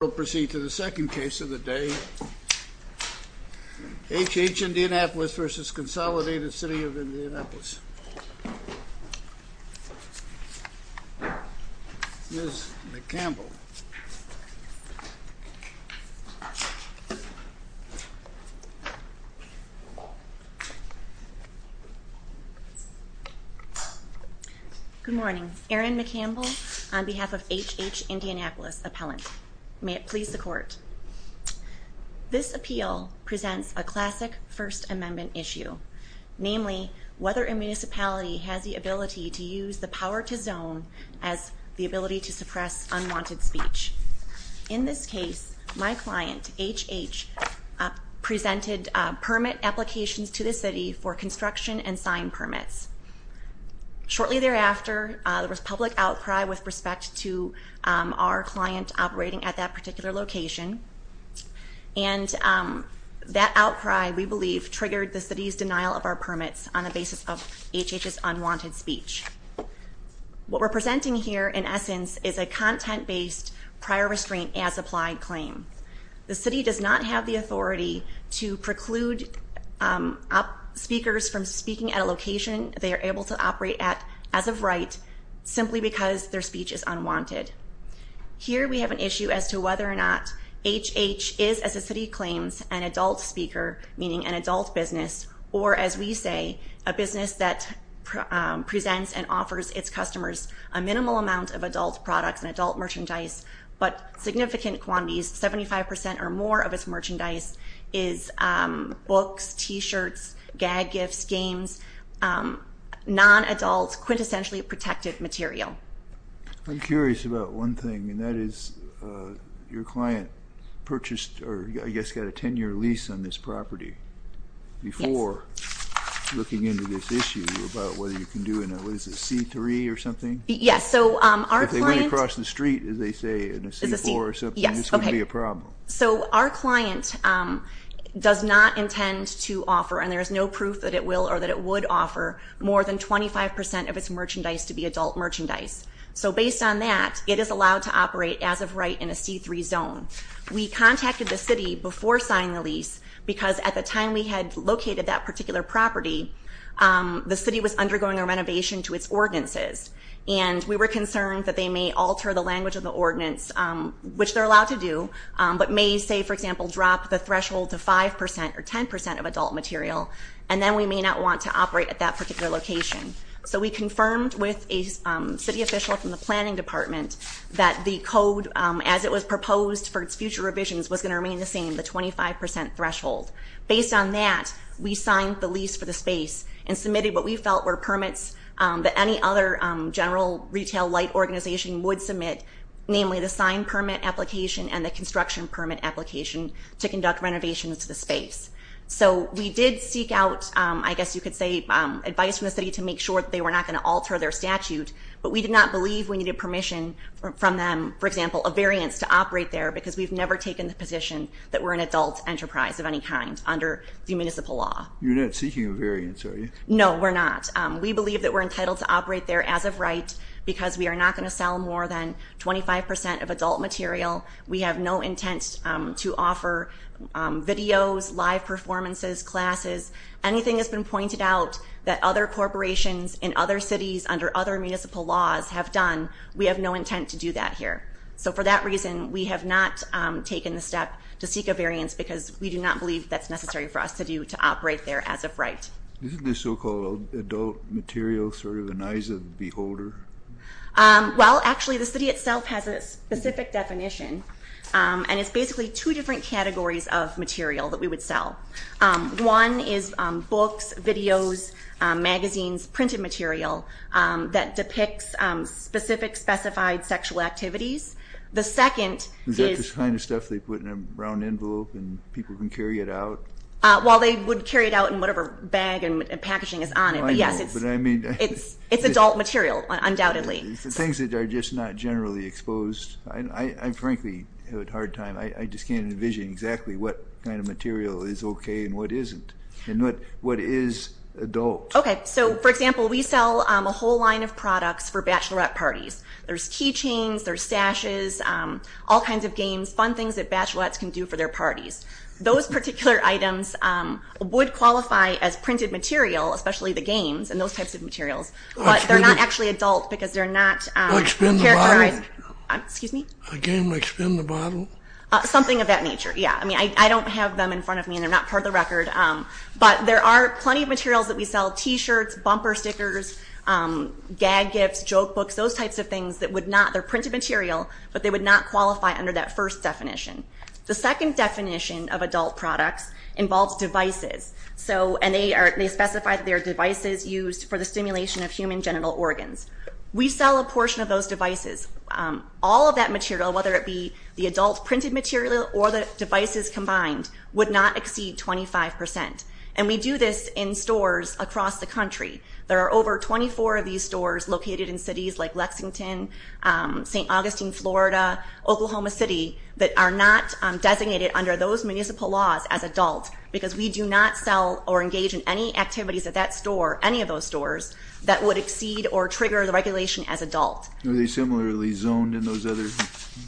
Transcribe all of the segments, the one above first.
We'll proceed to the second case of the day. HH-Indianapolis v. Consolidated City of Indianapolis. Ms. McCampbell. Good morning. Erin McCampbell on behalf of HH-Indianapolis Appellant. May it please the Court. This appeal presents a classic First Amendment issue. Namely, whether a municipality has the ability to use the power to zone as the ability to suppress unwanted speech. In this case, my client, HH, presented permit applications to the City for construction and sign permits. Shortly thereafter, there was public outcry with respect to our client operating at that particular location. And that outcry, we believe, triggered the City's denial of our permits on the basis of HH's unwanted speech. What we're presenting here, in essence, is a content-based prior restraint as applied claim. The City does not have the authority to preclude speakers from speaking at a location they are able to operate at as of right, simply because their speech is unwanted. Here we have an issue as to whether or not HH is, as the City claims, an adult speaker, meaning an adult business, or, as we say, a business that presents and offers its customers a minimal amount of adult products and adult merchandise, but significant quantities, 75% or more of its merchandise is books, T-shirts, gag gifts, games, non-adult, quintessentially protected material. I'm curious about one thing, and that is your client purchased or, I guess, got a 10-year lease on this property before looking into this issue about whether you can do it in a C3 or something? Yes. If they went across the street, as they say, in a C4 or something, this would be a problem. So our client does not intend to offer, and there is no proof that it will or that it would offer, more than 25% of its merchandise to be adult merchandise. So based on that, it is allowed to operate as of right in a C3 zone. We contacted the City before signing the lease because at the time we had located that particular property, the City was undergoing a renovation to its ordinances, and we were concerned that they may alter the language of the ordinance, which they're allowed to do, but may, say, for example, drop the threshold to 5% or 10% of adult material, and then we may not want to operate at that particular location. So we confirmed with a City official from the Planning Department that the code, as it was proposed for its future revisions, was going to remain the same, the 25% threshold. Based on that, we signed the lease for the space and submitted what we felt were permits that any other general retail light organization would submit, namely the sign permit application and the construction permit application to conduct renovations to the space. So we did seek out, I guess you could say, advice from the City to make sure that they were not going to alter their statute, but we did not believe we needed permission from them, for example, a variance to operate there, because we've never taken the position that we're an adult enterprise of any kind under the municipal law. You're not seeking a variance, are you? No, we're not. We believe that we're entitled to operate there as of right because we are not going to sell more than 25% of adult material. We have no intent to offer videos, live performances, classes. Anything that's been pointed out that other corporations in other cities under other municipal laws have done, we have no intent to do that here. So for that reason, we have not taken the step to seek a variance because we do not believe that's necessary for us to do to operate there as of right. Isn't this so-called adult material sort of an eyes of the beholder? Well, actually, the City itself has a specific definition, and it's basically two different categories of material that we would sell. One is books, videos, magazines, printed material that depicts specific specified sexual activities. The second is- Is that the kind of stuff they put in a round envelope and people can carry it out? Well, they would carry it out in whatever bag and packaging is on it, but yes, it's adult material, undoubtedly. For things that are just not generally exposed, I frankly have a hard time. I just can't envision exactly what kind of material is okay and what isn't and what is adult. Okay. So, for example, we sell a whole line of products for bachelorette parties. There's keychains, there's stashes, all kinds of games, fun things that bachelorettes can do for their parties. Those particular items would qualify as printed material, especially the games and those types of materials, but they're not actually adult because they're not characterized- Like spin the bottle. Excuse me? A game like spin the bottle? Something of that nature, yeah. I mean, I don't have them in front of me and they're not part of the record, but there are plenty of materials that we sell. T-shirts, bumper stickers, gag gifts, joke books, those types of things that would not- They're printed material, but they would not qualify under that first definition. The second definition of adult products involves devices, and they specify that they are devices used for the stimulation of human genital organs. We sell a portion of those devices. All of that material, whether it be the adult printed material or the devices combined, would not exceed 25%. And we do this in stores across the country. There are over 24 of these stores located in cities like Lexington, St. Augustine, Florida, Oklahoma City, that are not designated under those municipal laws as adult because we do not sell or engage in any activities at that store, any of those stores, that would exceed or trigger the regulation as adult. Are they similarly zoned in those other-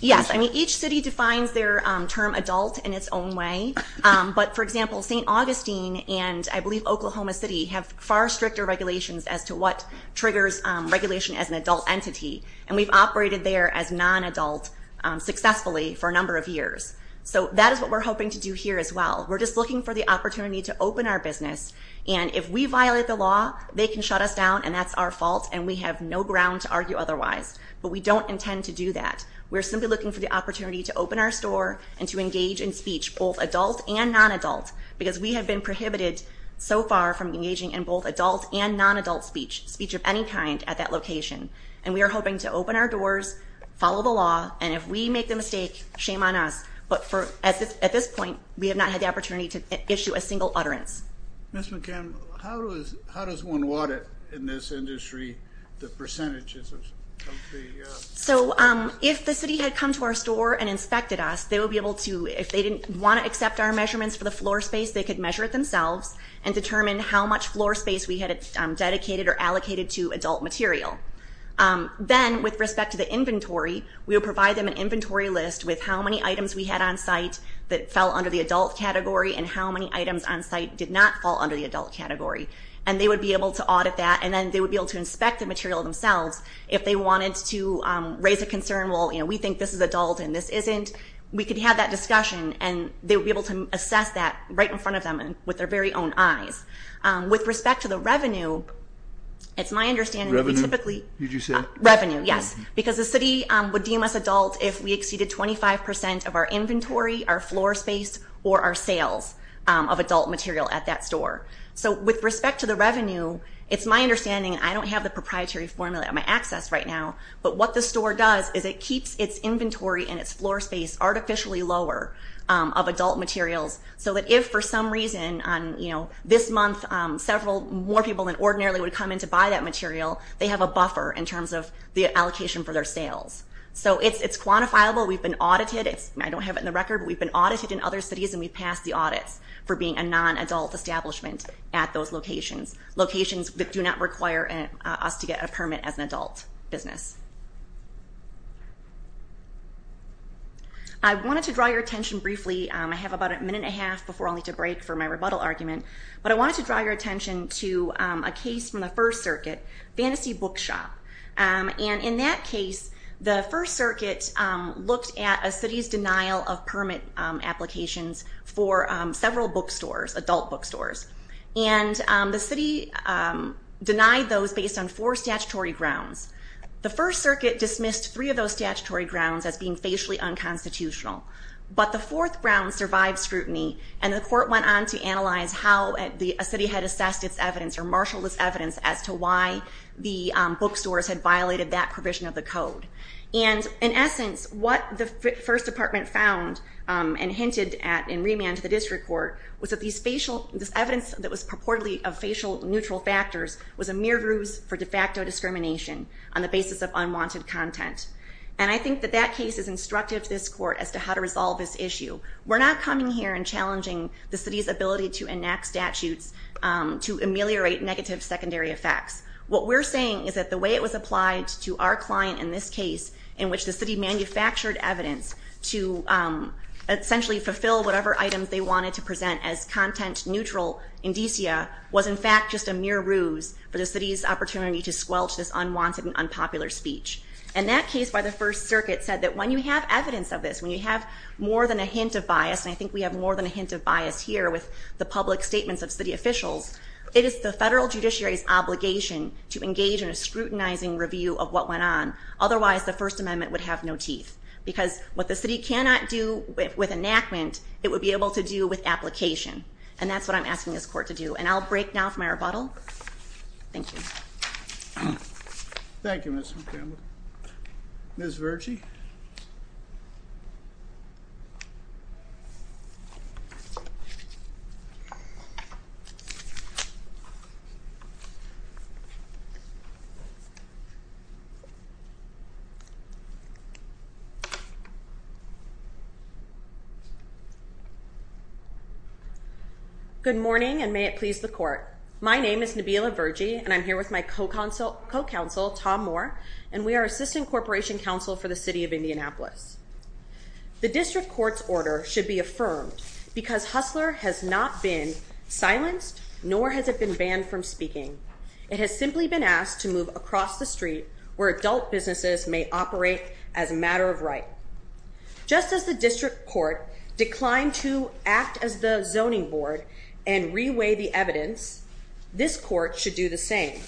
Yes. I mean, each city defines their term adult in its own way. But, for example, St. Augustine and I believe Oklahoma City have far stricter regulations as to what triggers regulation as an adult entity. And we've operated there as non-adult successfully for a number of years. So that is what we're hoping to do here as well. We're just looking for the opportunity to open our business. And if we violate the law, they can shut us down, and that's our fault, and we have no ground to argue otherwise. But we don't intend to do that. We're simply looking for the opportunity to open our store and to engage in speech, both adult and non-adult, because we have been prohibited so far from engaging in both adult and non-adult speech, speech of any kind, at that location. And we are hoping to open our doors, follow the law, and if we make the mistake, shame on us. But at this point, we have not had the opportunity to issue a single utterance. Ms. McCann, how does one audit in this industry the percentages of the? So if the city had come to our store and inspected us, they would be able to, if they didn't want to accept our measurements for the floor space, they could measure it themselves and determine how much floor space we had dedicated or allocated to adult material. Then, with respect to the inventory, we would provide them an inventory list with how many items we had on site that fell under the adult category and how many items on site did not fall under the adult category. And they would be able to audit that, and then they would be able to inspect the material themselves if they wanted to raise a concern, well, you know, we think this is adult and this isn't. We could have that discussion, and they would be able to assess that right in front of them with their very own eyes. With respect to the revenue, it's my understanding that we typically. Revenue, did you say? Revenue, yes, because the city would deem us adult if we exceeded 25 percent of our inventory, our floor space, or our sales of adult material at that store. So with respect to the revenue, it's my understanding, and I don't have the proprietary formula at my access right now, but what the store does is it keeps its inventory and its floor space artificially lower of adult materials so that if for some reason this month several more people than ordinarily would come in to buy that material, they have a buffer in terms of the allocation for their sales. So it's quantifiable. We've been audited. I don't have it in the record, but we've been audited in other cities, and we've passed the audits for being a non-adult establishment at those locations, locations that do not require us to get a permit as an adult business. I wanted to draw your attention briefly. I have about a minute and a half before I'll need to break for my rebuttal argument, but I wanted to draw your attention to a case from the First Circuit, Fantasy Bookshop. And in that case, the First Circuit looked at a city's denial of permit applications for several bookstores, adult bookstores, and the city denied those based on four statutory grounds. The First Circuit dismissed three of those statutory grounds as being facially unconstitutional, but the fourth ground survived scrutiny, and the court went on to analyze how a city had assessed its evidence or marshaled its evidence as to why the bookstores had violated that provision of the code. And in essence, what the First Department found and hinted at in remand to the district court was that this evidence that was purportedly of facial neutral factors was a mere ruse for de facto discrimination on the basis of unwanted content. And I think that that case is instructive to this court as to how to resolve this issue. We're not coming here and challenging the city's ability to enact statutes to ameliorate negative secondary effects. What we're saying is that the way it was applied to our client in this case, in which the city manufactured evidence to essentially fulfill whatever items they wanted to present as content neutral indicia was in fact just a mere ruse for the city's opportunity to squelch this unwanted and unpopular speech. And that case by the First Circuit said that when you have evidence of this, when you have more than a hint of bias, and I think we have more than a hint of bias here with the public statements of city officials, it is the federal judiciary's obligation to engage in a scrutinizing review of what went on. Otherwise, the First Amendment would have no teeth. Because what the city cannot do with enactment, it would be able to do with application. And that's what I'm asking this court to do. And I'll break now for my rebuttal. Thank you. Thank you, Ms. Montgomery. Ms. Verge? Good morning, and may it please the court. My name is Nabila Verge, and I'm here with my co-counsel, Tom Moore, and we are assistant corporation counsel for the city of Indianapolis. The district court's order should be affirmed because Hustler has not been silenced, nor has it been banned from speaking. It has simply been asked to move across the street where adult businesses may operate as a matter of right. Just as the district court declined to act as the zoning board and reweigh the evidence, this court should do the same.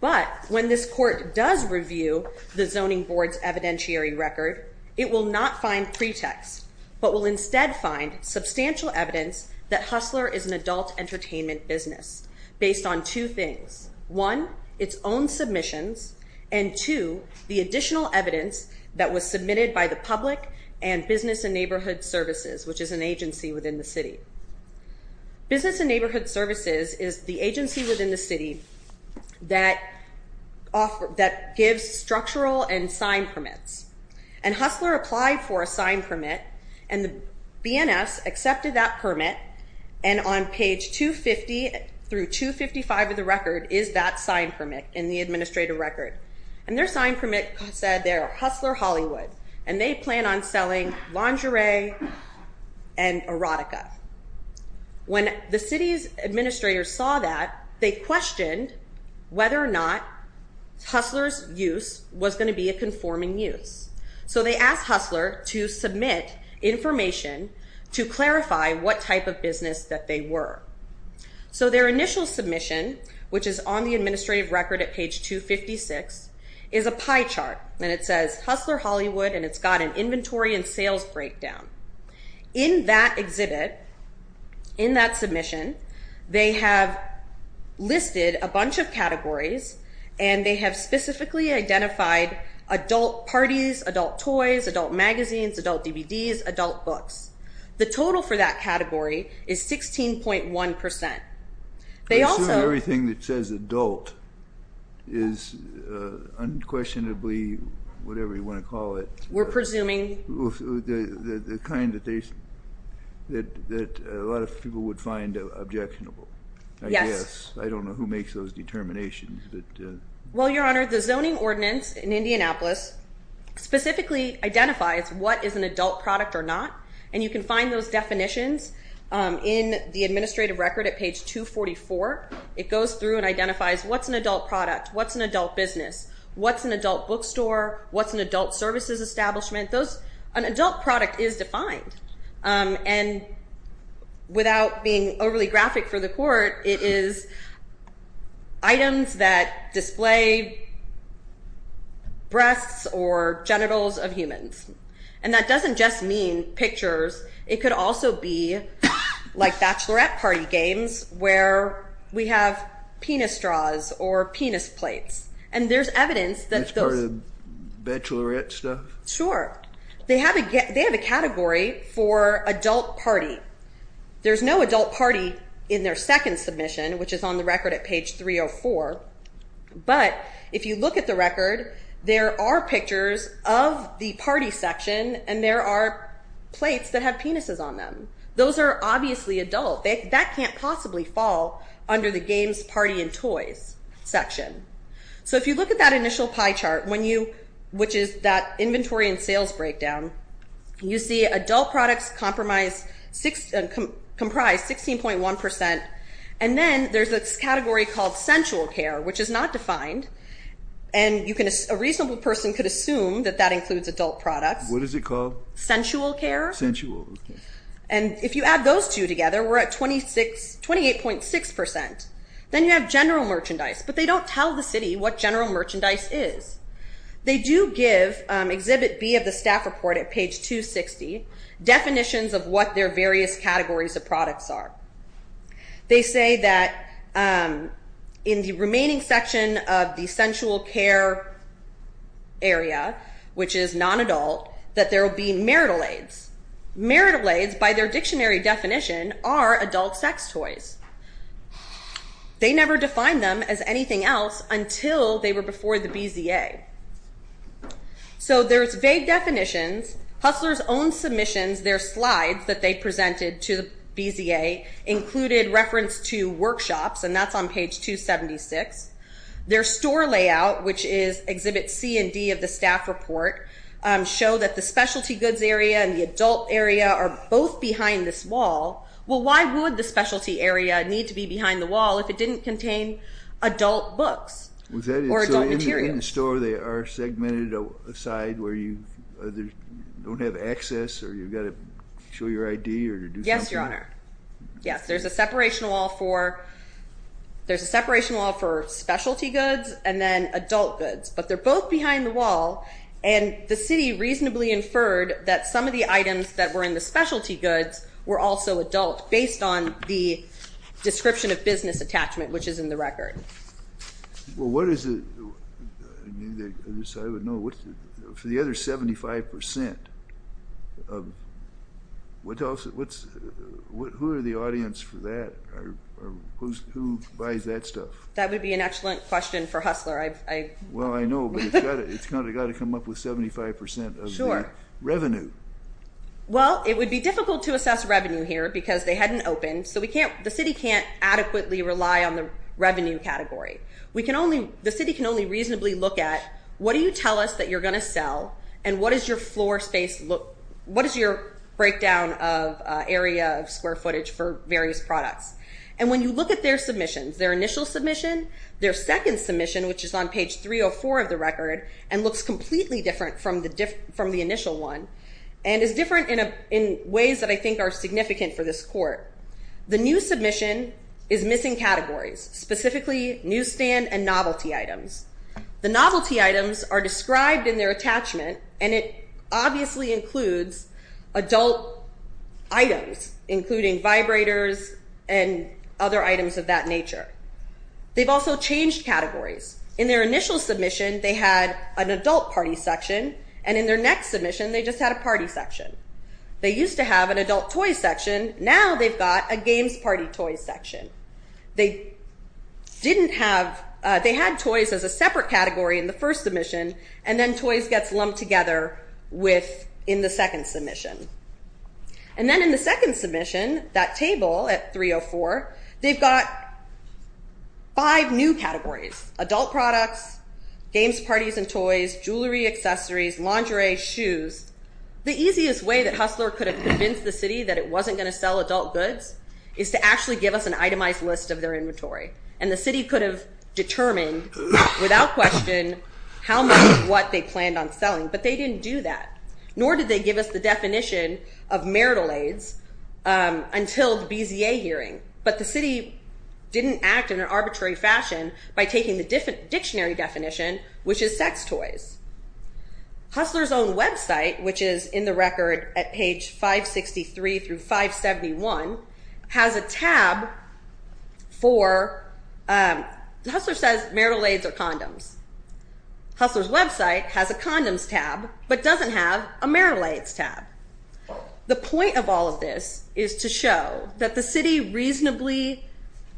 But when this court does review the zoning board's evidentiary record, it will not find pretext, but will instead find substantial evidence that Hustler is an adult entertainment business based on two things. One, its own submissions, and two, the additional evidence that was submitted by the public and Business and Neighborhood Services, which is an agency within the city. Business and Neighborhood Services is the agency within the city that gives structural and sign permits. And Hustler applied for a sign permit, and the BNS accepted that permit, and on page 250 through 255 of the record is that sign permit in the administrative record. And their sign permit said they're Hustler Hollywood, and they plan on selling lingerie and erotica. When the city's administrators saw that, they questioned whether or not Hustler's use was going to be a conforming use. So they asked Hustler to submit information to clarify what type of business that they were. So their initial submission, which is on the administrative record at page 256, is a pie chart, and it says Hustler Hollywood, and it's got an inventory and sales breakdown. In that exhibit, in that submission, they have listed a bunch of categories, and they have specifically identified adult parties, adult toys, adult magazines, adult DVDs, adult books. The total for that category is 16.1%. I assume everything that says adult is unquestionably whatever you want to call it. We're presuming. The kind that a lot of people would find objectionable. Yes. I don't know who makes those determinations. Well, Your Honor, the zoning ordinance in Indianapolis specifically identifies what is an adult product or not, and you can find those definitions in the administrative record at page 244. It goes through and identifies what's an adult product, what's an adult business, what's an adult bookstore, what's an adult services establishment. An adult product is defined, and without being overly graphic for the court, it is items that display breasts or genitals of humans, and that doesn't just mean pictures. It could also be like bachelorette party games where we have penis straws or penis plates, and there's evidence that those. That's part of the bachelorette stuff? Sure. They have a category for adult party. There's no adult party in their second submission, which is on the record at page 304, but if you look at the record, there are pictures of the party section, and there are plates that have penises on them. Those are obviously adult. That can't possibly fall under the games, party, and toys section. So if you look at that initial pie chart, which is that inventory and sales breakdown, you see adult products comprise 16.1%, and then there's this category called sensual care, which is not defined, and a reasonable person could assume that that includes adult products. What is it called? Sensual care. Sensual. And if you add those two together, we're at 28.6%. Then you have general merchandise, but they don't tell the city what general merchandise is. They do give, Exhibit B of the staff report at page 260, definitions of what their various categories of products are. They say that in the remaining section of the sensual care area, which is non-adult, that there will be marital aids. Marital aids, by their dictionary definition, are adult sex toys. They never defined them as anything else until they were before the BZA. So there's vague definitions. Hustler's own submissions, their slides that they presented to the BZA, included reference to workshops, and that's on page 276. Their store layout, which is Exhibit C and D of the staff report, show that the specialty goods area and the adult area are both behind this wall. Well, why would the specialty area need to be behind the wall if it didn't contain adult books or adult materials? So in the store they are segmented aside where you either don't have access or you've got to show your ID or to do something? Yes, Your Honor. Yes, there's a separation wall for specialty goods and then adult goods. But they're both behind the wall, and the city reasonably inferred that some of the items that were in the specialty goods were also adult based on the description of business attachment, which is in the record. Well, what is it? For the other 75%, who are the audience for that? Who buys that stuff? That would be an excellent question for Hustler. Well, I know, but it's got to come up with 75% of the revenue. Well, it would be difficult to assess revenue here because they hadn't opened, so the city can't adequately rely on the revenue category. The city can only reasonably look at what do you tell us that you're going to sell and what is your breakdown of area of square footage for various products. And when you look at their submissions, their initial submission, their second submission, which is on page 304 of the record and looks completely different from the initial one and is different in ways that I think are significant for this court. The new submission is missing categories, specifically newsstand and novelty items. The novelty items are described in their attachment, and it obviously includes adult items, including vibrators and other items of that nature. They've also changed categories. In their initial submission, they had an adult party section, and in their next submission, they just had a party section. They used to have an adult toy section. Now they've got a games party toy section. They had toys as a separate category in the first submission, and then toys gets lumped together in the second submission. And then in the second submission, that table at 304, they've got five new categories, adult products, games, parties, and toys, jewelry, accessories, lingerie, shoes. The easiest way that Hustler could have convinced the city that it wasn't going to sell adult goods is to actually give us an itemized list of their inventory. And the city could have determined without question how much of what they planned on selling, but they didn't do that, nor did they give us the definition of marital aids until the BZA hearing. But the city didn't act in an arbitrary fashion by taking the dictionary definition, which is sex toys. Hustler's own website, which is in the record at page 563 through 571, has a tab for... Hustler says marital aids are condoms. Hustler's website has a condoms tab, but doesn't have a marital aids tab. The point of all of this is to show that the city reasonably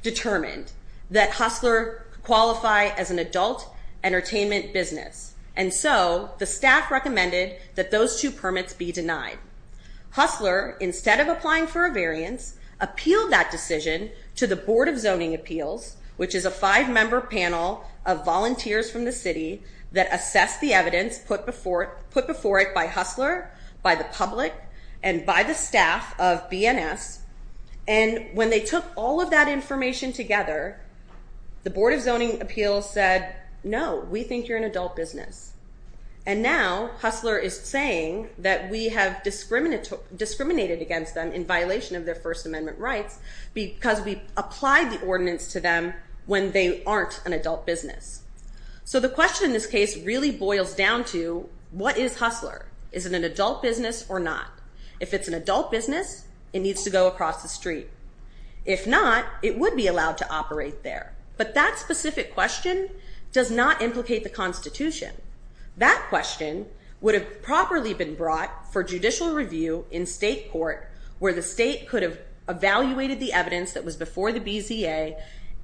determined that Hustler qualify as an adult entertainment business, and so the staff recommended that those two permits be denied. Hustler, instead of applying for a variance, appealed that decision to the Board of Zoning Appeals, which is a five-member panel of volunteers from the city that assessed the evidence put before it by Hustler, by the public, and by the staff of BNS. And when they took all of that information together, the Board of Zoning Appeals said, no, we think you're an adult business. And now Hustler is saying that we have discriminated against them in violation of their First Amendment rights because we applied the ordinance to them when they aren't an adult business. So the question in this case really boils down to what is Hustler? Is it an adult business or not? If it's an adult business, it needs to go across the street. If not, it would be allowed to operate there. But that specific question does not implicate the Constitution. That question would have properly been brought for judicial review in state court where the state could have evaluated the evidence that was before the BZA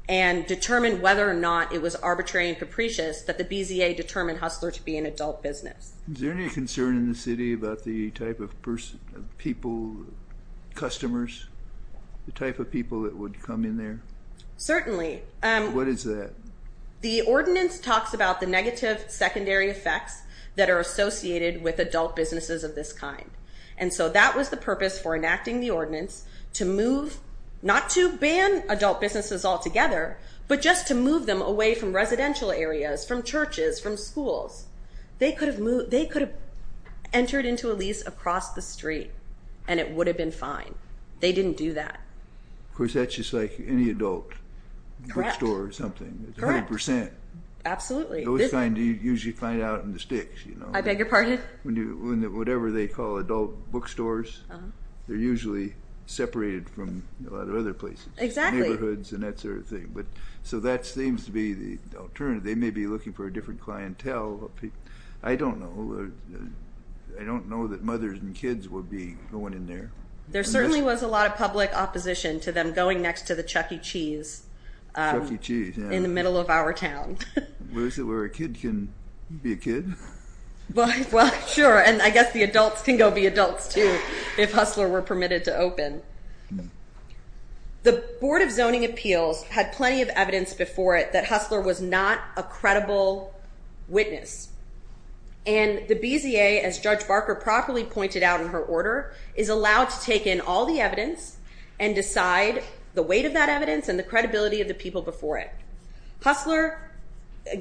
and determined whether or not it was arbitrary and capricious that the BZA determined Hustler to be an adult business. Is there any concern in the city about the type of people, customers, the type of people that would come in there? Certainly. What is that? The ordinance talks about the negative secondary effects that are associated with adult businesses of this kind. And so that was the purpose for enacting the ordinance, to move not to ban adult businesses altogether, but just to move them away from residential areas, from churches, from schools. They could have entered into a lease across the street, and it would have been fine. They didn't do that. Of course, that's just like any adult bookstore or something. It's 100%. Absolutely. It was fine to usually find out in the sticks. I beg your pardon? Whatever they call adult bookstores, they're usually separated from a lot of other places. Exactly. Neighborhoods and that sort of thing. So that seems to be the alternative. They may be looking for a different clientele. I don't know. I don't know that mothers and kids would be going in there. There certainly was a lot of public opposition to them going next to the Chuck E. Cheese in the middle of our town. Is that where a kid can be a kid? Well, sure, and I guess the adults can go be adults, too, if Hustler were permitted to open. The Board of Zoning Appeals had plenty of evidence before it that Hustler was not a credible witness. And the BZA, as Judge Barker properly pointed out in her order, is allowed to take in all the evidence and decide the weight of that evidence and the credibility of the people before it. Hustler,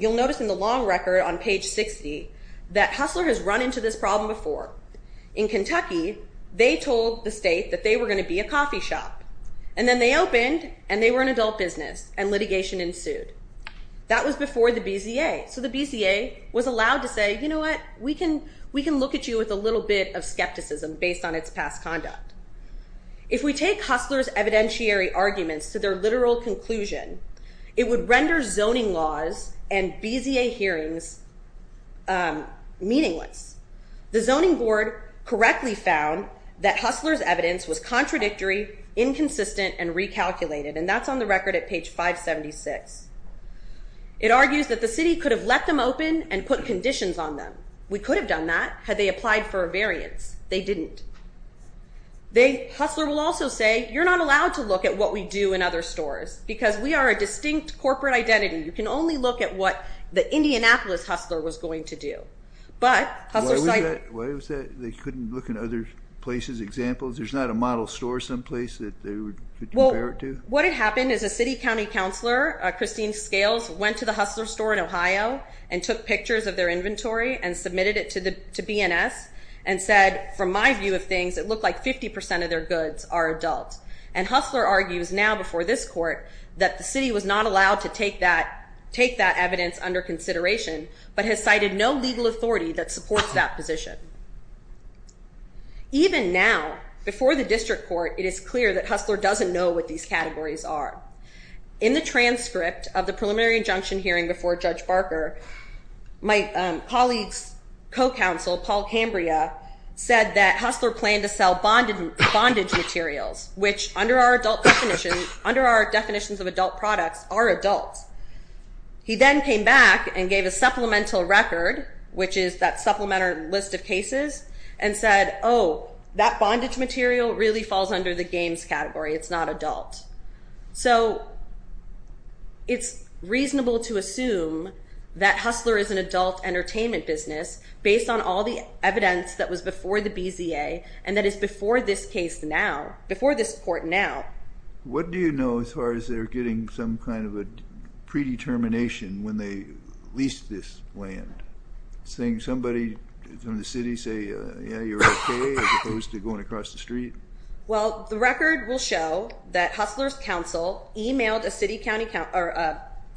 you'll notice in the long record on page 60, that Hustler has run into this problem before. In Kentucky, they told the state that they were going to be a coffee shop. And then they opened, and they were an adult business, and litigation ensued. That was before the BZA. So the BZA was allowed to say, you know what, we can look at you with a little bit of skepticism based on its past conduct. If we take Hustler's evidentiary arguments to their literal conclusion, it would render zoning laws and BZA hearings meaningless. The Zoning Board correctly found that Hustler's evidence was contradictory, inconsistent, and recalculated. And that's on the record at page 576. It argues that the city could have let them open and put conditions on them. We could have done that had they applied for a variance. They didn't. Hustler will also say, you're not allowed to look at what we do in other stores because we are a distinct corporate identity. You can only look at what the Indianapolis Hustler was going to do. But Hustler cited – Why was that? They couldn't look in other places? Examples? There's not a model store someplace that they would compare it to? Well, what had happened is a city county counselor, Christine Scales, went to the Hustler store in Ohio and took pictures of their inventory and submitted it to BNS and said, from my view of things, it looked like 50% of their goods are adult. And Hustler argues now before this court that the city was not allowed to take that evidence under consideration but has cited no legal authority that supports that position. Even now, before the district court, it is clear that Hustler doesn't know what these categories are. In the transcript of the preliminary injunction hearing before Judge Barker, my colleague's co-counsel, Paul Cambria, said that Hustler planned to sell bondage materials, which under our definitions of adult products are adults. He then came back and gave a supplemental record, which is that supplementary list of cases, and said, oh, that bondage material really falls under the games category. It's not adult. So it's reasonable to assume that Hustler is an adult entertainment business based on all the evidence that was before the BZA and that is before this case now, before this court now. What do you know as far as they're getting some kind of a predetermination when they leased this land? Does somebody from the city say, yeah, you're okay, as opposed to going across the street? Well, the record will show that Hustler's counsel emailed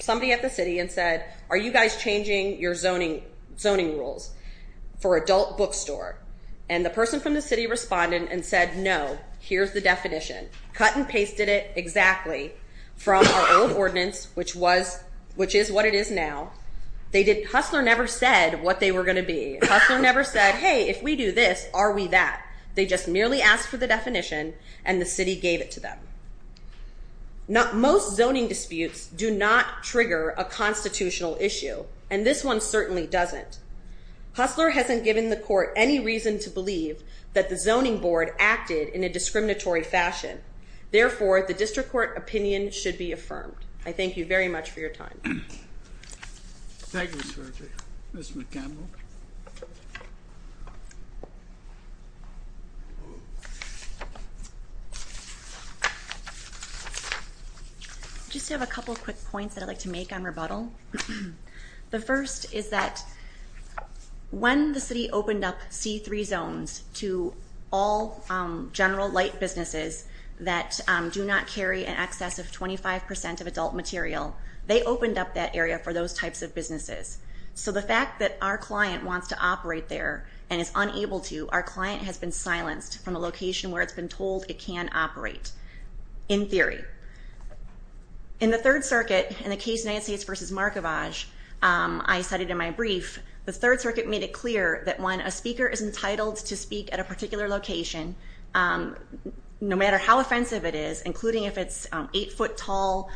somebody at the city and said, are you guys changing your zoning rules for adult bookstore? And the person from the city responded and said, no, here's the definition, cut and pasted it exactly from our old ordinance, which is what it is now. Hustler never said what they were going to be. Hustler never said, hey, if we do this, are we that? They just merely asked for the definition, and the city gave it to them. Most zoning disputes do not trigger a constitutional issue, and this one certainly doesn't. Hustler hasn't given the court any reason to believe that the zoning board acted in a discriminatory fashion. Therefore, the district court opinion should be affirmed. I thank you very much for your time. Thank you, Mr. Chair. Ms. McCampbell. I just have a couple quick points that I'd like to make on rebuttal. The first is that when the city opened up C3 zones to all general light businesses that do not carry in excess of 25% of adult material, they opened up that area for those types of businesses. So the fact that our client wants to operate there and is unable to, our client has been silenced from a location where it's been told it can operate, in theory. In the Third Circuit, in the case United States v. Markovage, I cited in my brief, the Third Circuit made it clear that when a speaker is entitled to speak at a particular location, no matter how offensive it is, including if it's eight-foot tall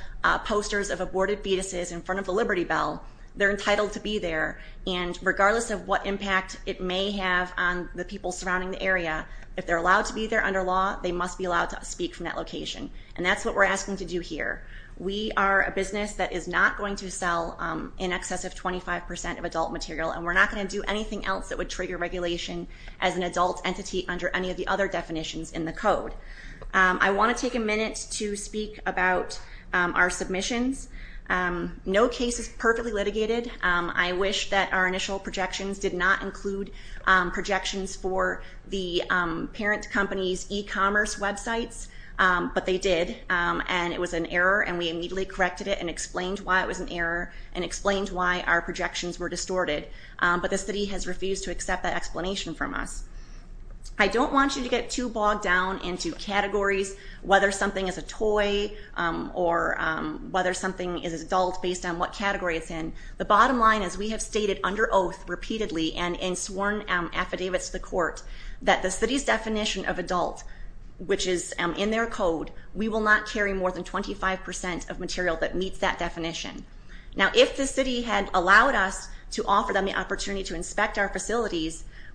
posters of aborted fetuses in front of the Liberty Bell, they're entitled to be there. And regardless of what impact it may have on the people surrounding the area, if they're allowed to be there under law, they must be allowed to speak from that location. And that's what we're asking to do here. We are a business that is not going to sell in excess of 25% of adult material, and we're not going to do anything else that would trigger regulation as an adult entity under any of the other definitions in the code. I want to take a minute to speak about our submissions. No case is perfectly litigated. I wish that our initial projections did not include projections for the parent company's e-commerce websites, but they did, and it was an error, and we immediately corrected it and explained why it was an error, and explained why our projections were distorted. But the city has refused to accept that explanation from us. I don't want you to get too bogged down into categories, whether something is a toy or whether something is adult based on what category it's in. The bottom line is we have stated under oath repeatedly and in sworn affidavits to the court that the city's definition of adult, which is in their code, we will not carry more than 25% of material that meets that definition. Now, if the city had allowed us to offer them the opportunity to inspect our data,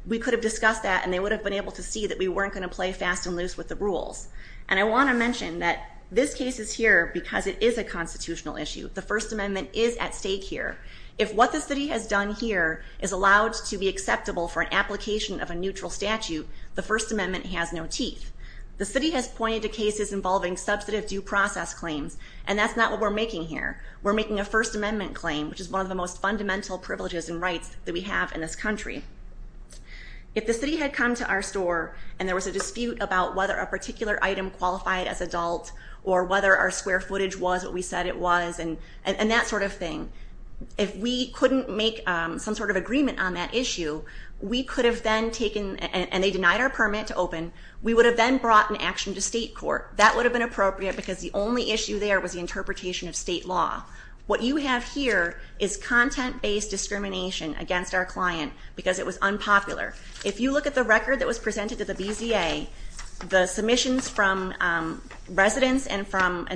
they would have looked at that, and they would have been able to see that we weren't going to play fast and loose with the rules. And I want to mention that this case is here because it is a constitutional issue. The First Amendment is at stake here. If what the city has done here is allowed to be acceptable for an application of a neutral statute, the First Amendment has no teeth. The city has pointed to cases involving substantive due process claims, and that's not what we're making here. We're making a First Amendment claim, which is one of the most fundamental privileges and rights that we have in this country. If the city had come to our store and there was a dispute about whether a particular item qualified as adult or whether our square footage was what we said it was and that sort of thing, if we couldn't make some sort of agreement on that issue, we could have then taken, and they denied our permit to open, we would have then brought an action to state court. That would have been appropriate because the only issue there was the interpretation of state law. What you have here is content-based discrimination against our client because it was unpopular. If you look at the record that was presented to the BZA, the submissions from residents and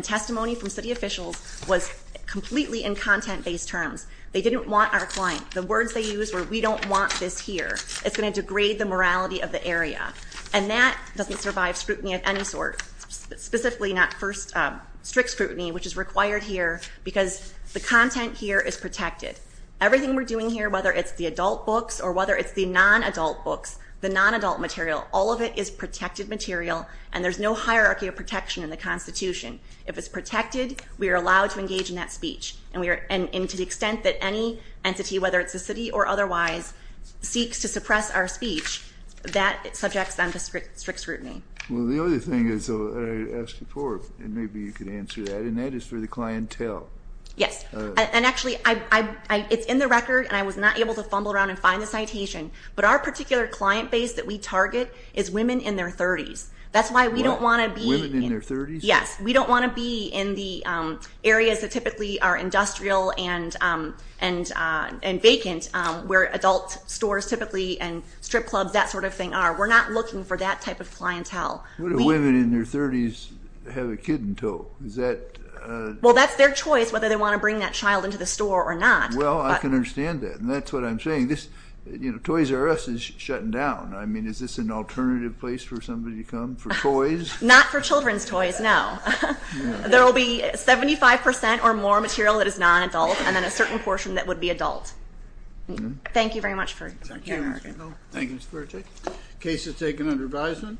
testimony from city officials was completely in content-based terms. They didn't want our client. The words they used were, we don't want this here. It's going to degrade the morality of the area. And that doesn't survive scrutiny of any sort, specifically not first strict scrutiny, which is required here because the content here is protected. Everything we're doing here, whether it's the adult books or whether it's the non-adult books, the non-adult material, all of it is protected material, and there's no hierarchy of protection in the constitution. If it's protected, we are allowed to engage in that speech. And to the extent that any entity, whether it's the city or otherwise, seeks to suppress our speech, that subjects them to strict scrutiny. Well, the other thing I asked before, and maybe you could answer that, and that is for the clientele. Yes. And actually, it's in the record, and I was not able to fumble around and find the citation, but our particular client base that we target is women in their 30s. That's why we don't want to be – Women in their 30s? Yes. We don't want to be in the areas that typically are industrial and vacant, where adult stores typically and strip clubs, that sort of thing, are. We're not looking for that type of clientele. What if women in their 30s have a kid in tow? Is that – Well, that's their choice, whether they want to bring that child into the store or not. Well, I can understand that, and that's what I'm saying. You know, Toys R Us is shutting down. I mean, is this an alternative place for somebody to come for toys? Not for children's toys, no. There will be 75 percent or more material that is non-adult and then a certain portion that would be adult. Thank you very much for your time. Thank you, Ms. Burtick. Case is taken under advisement.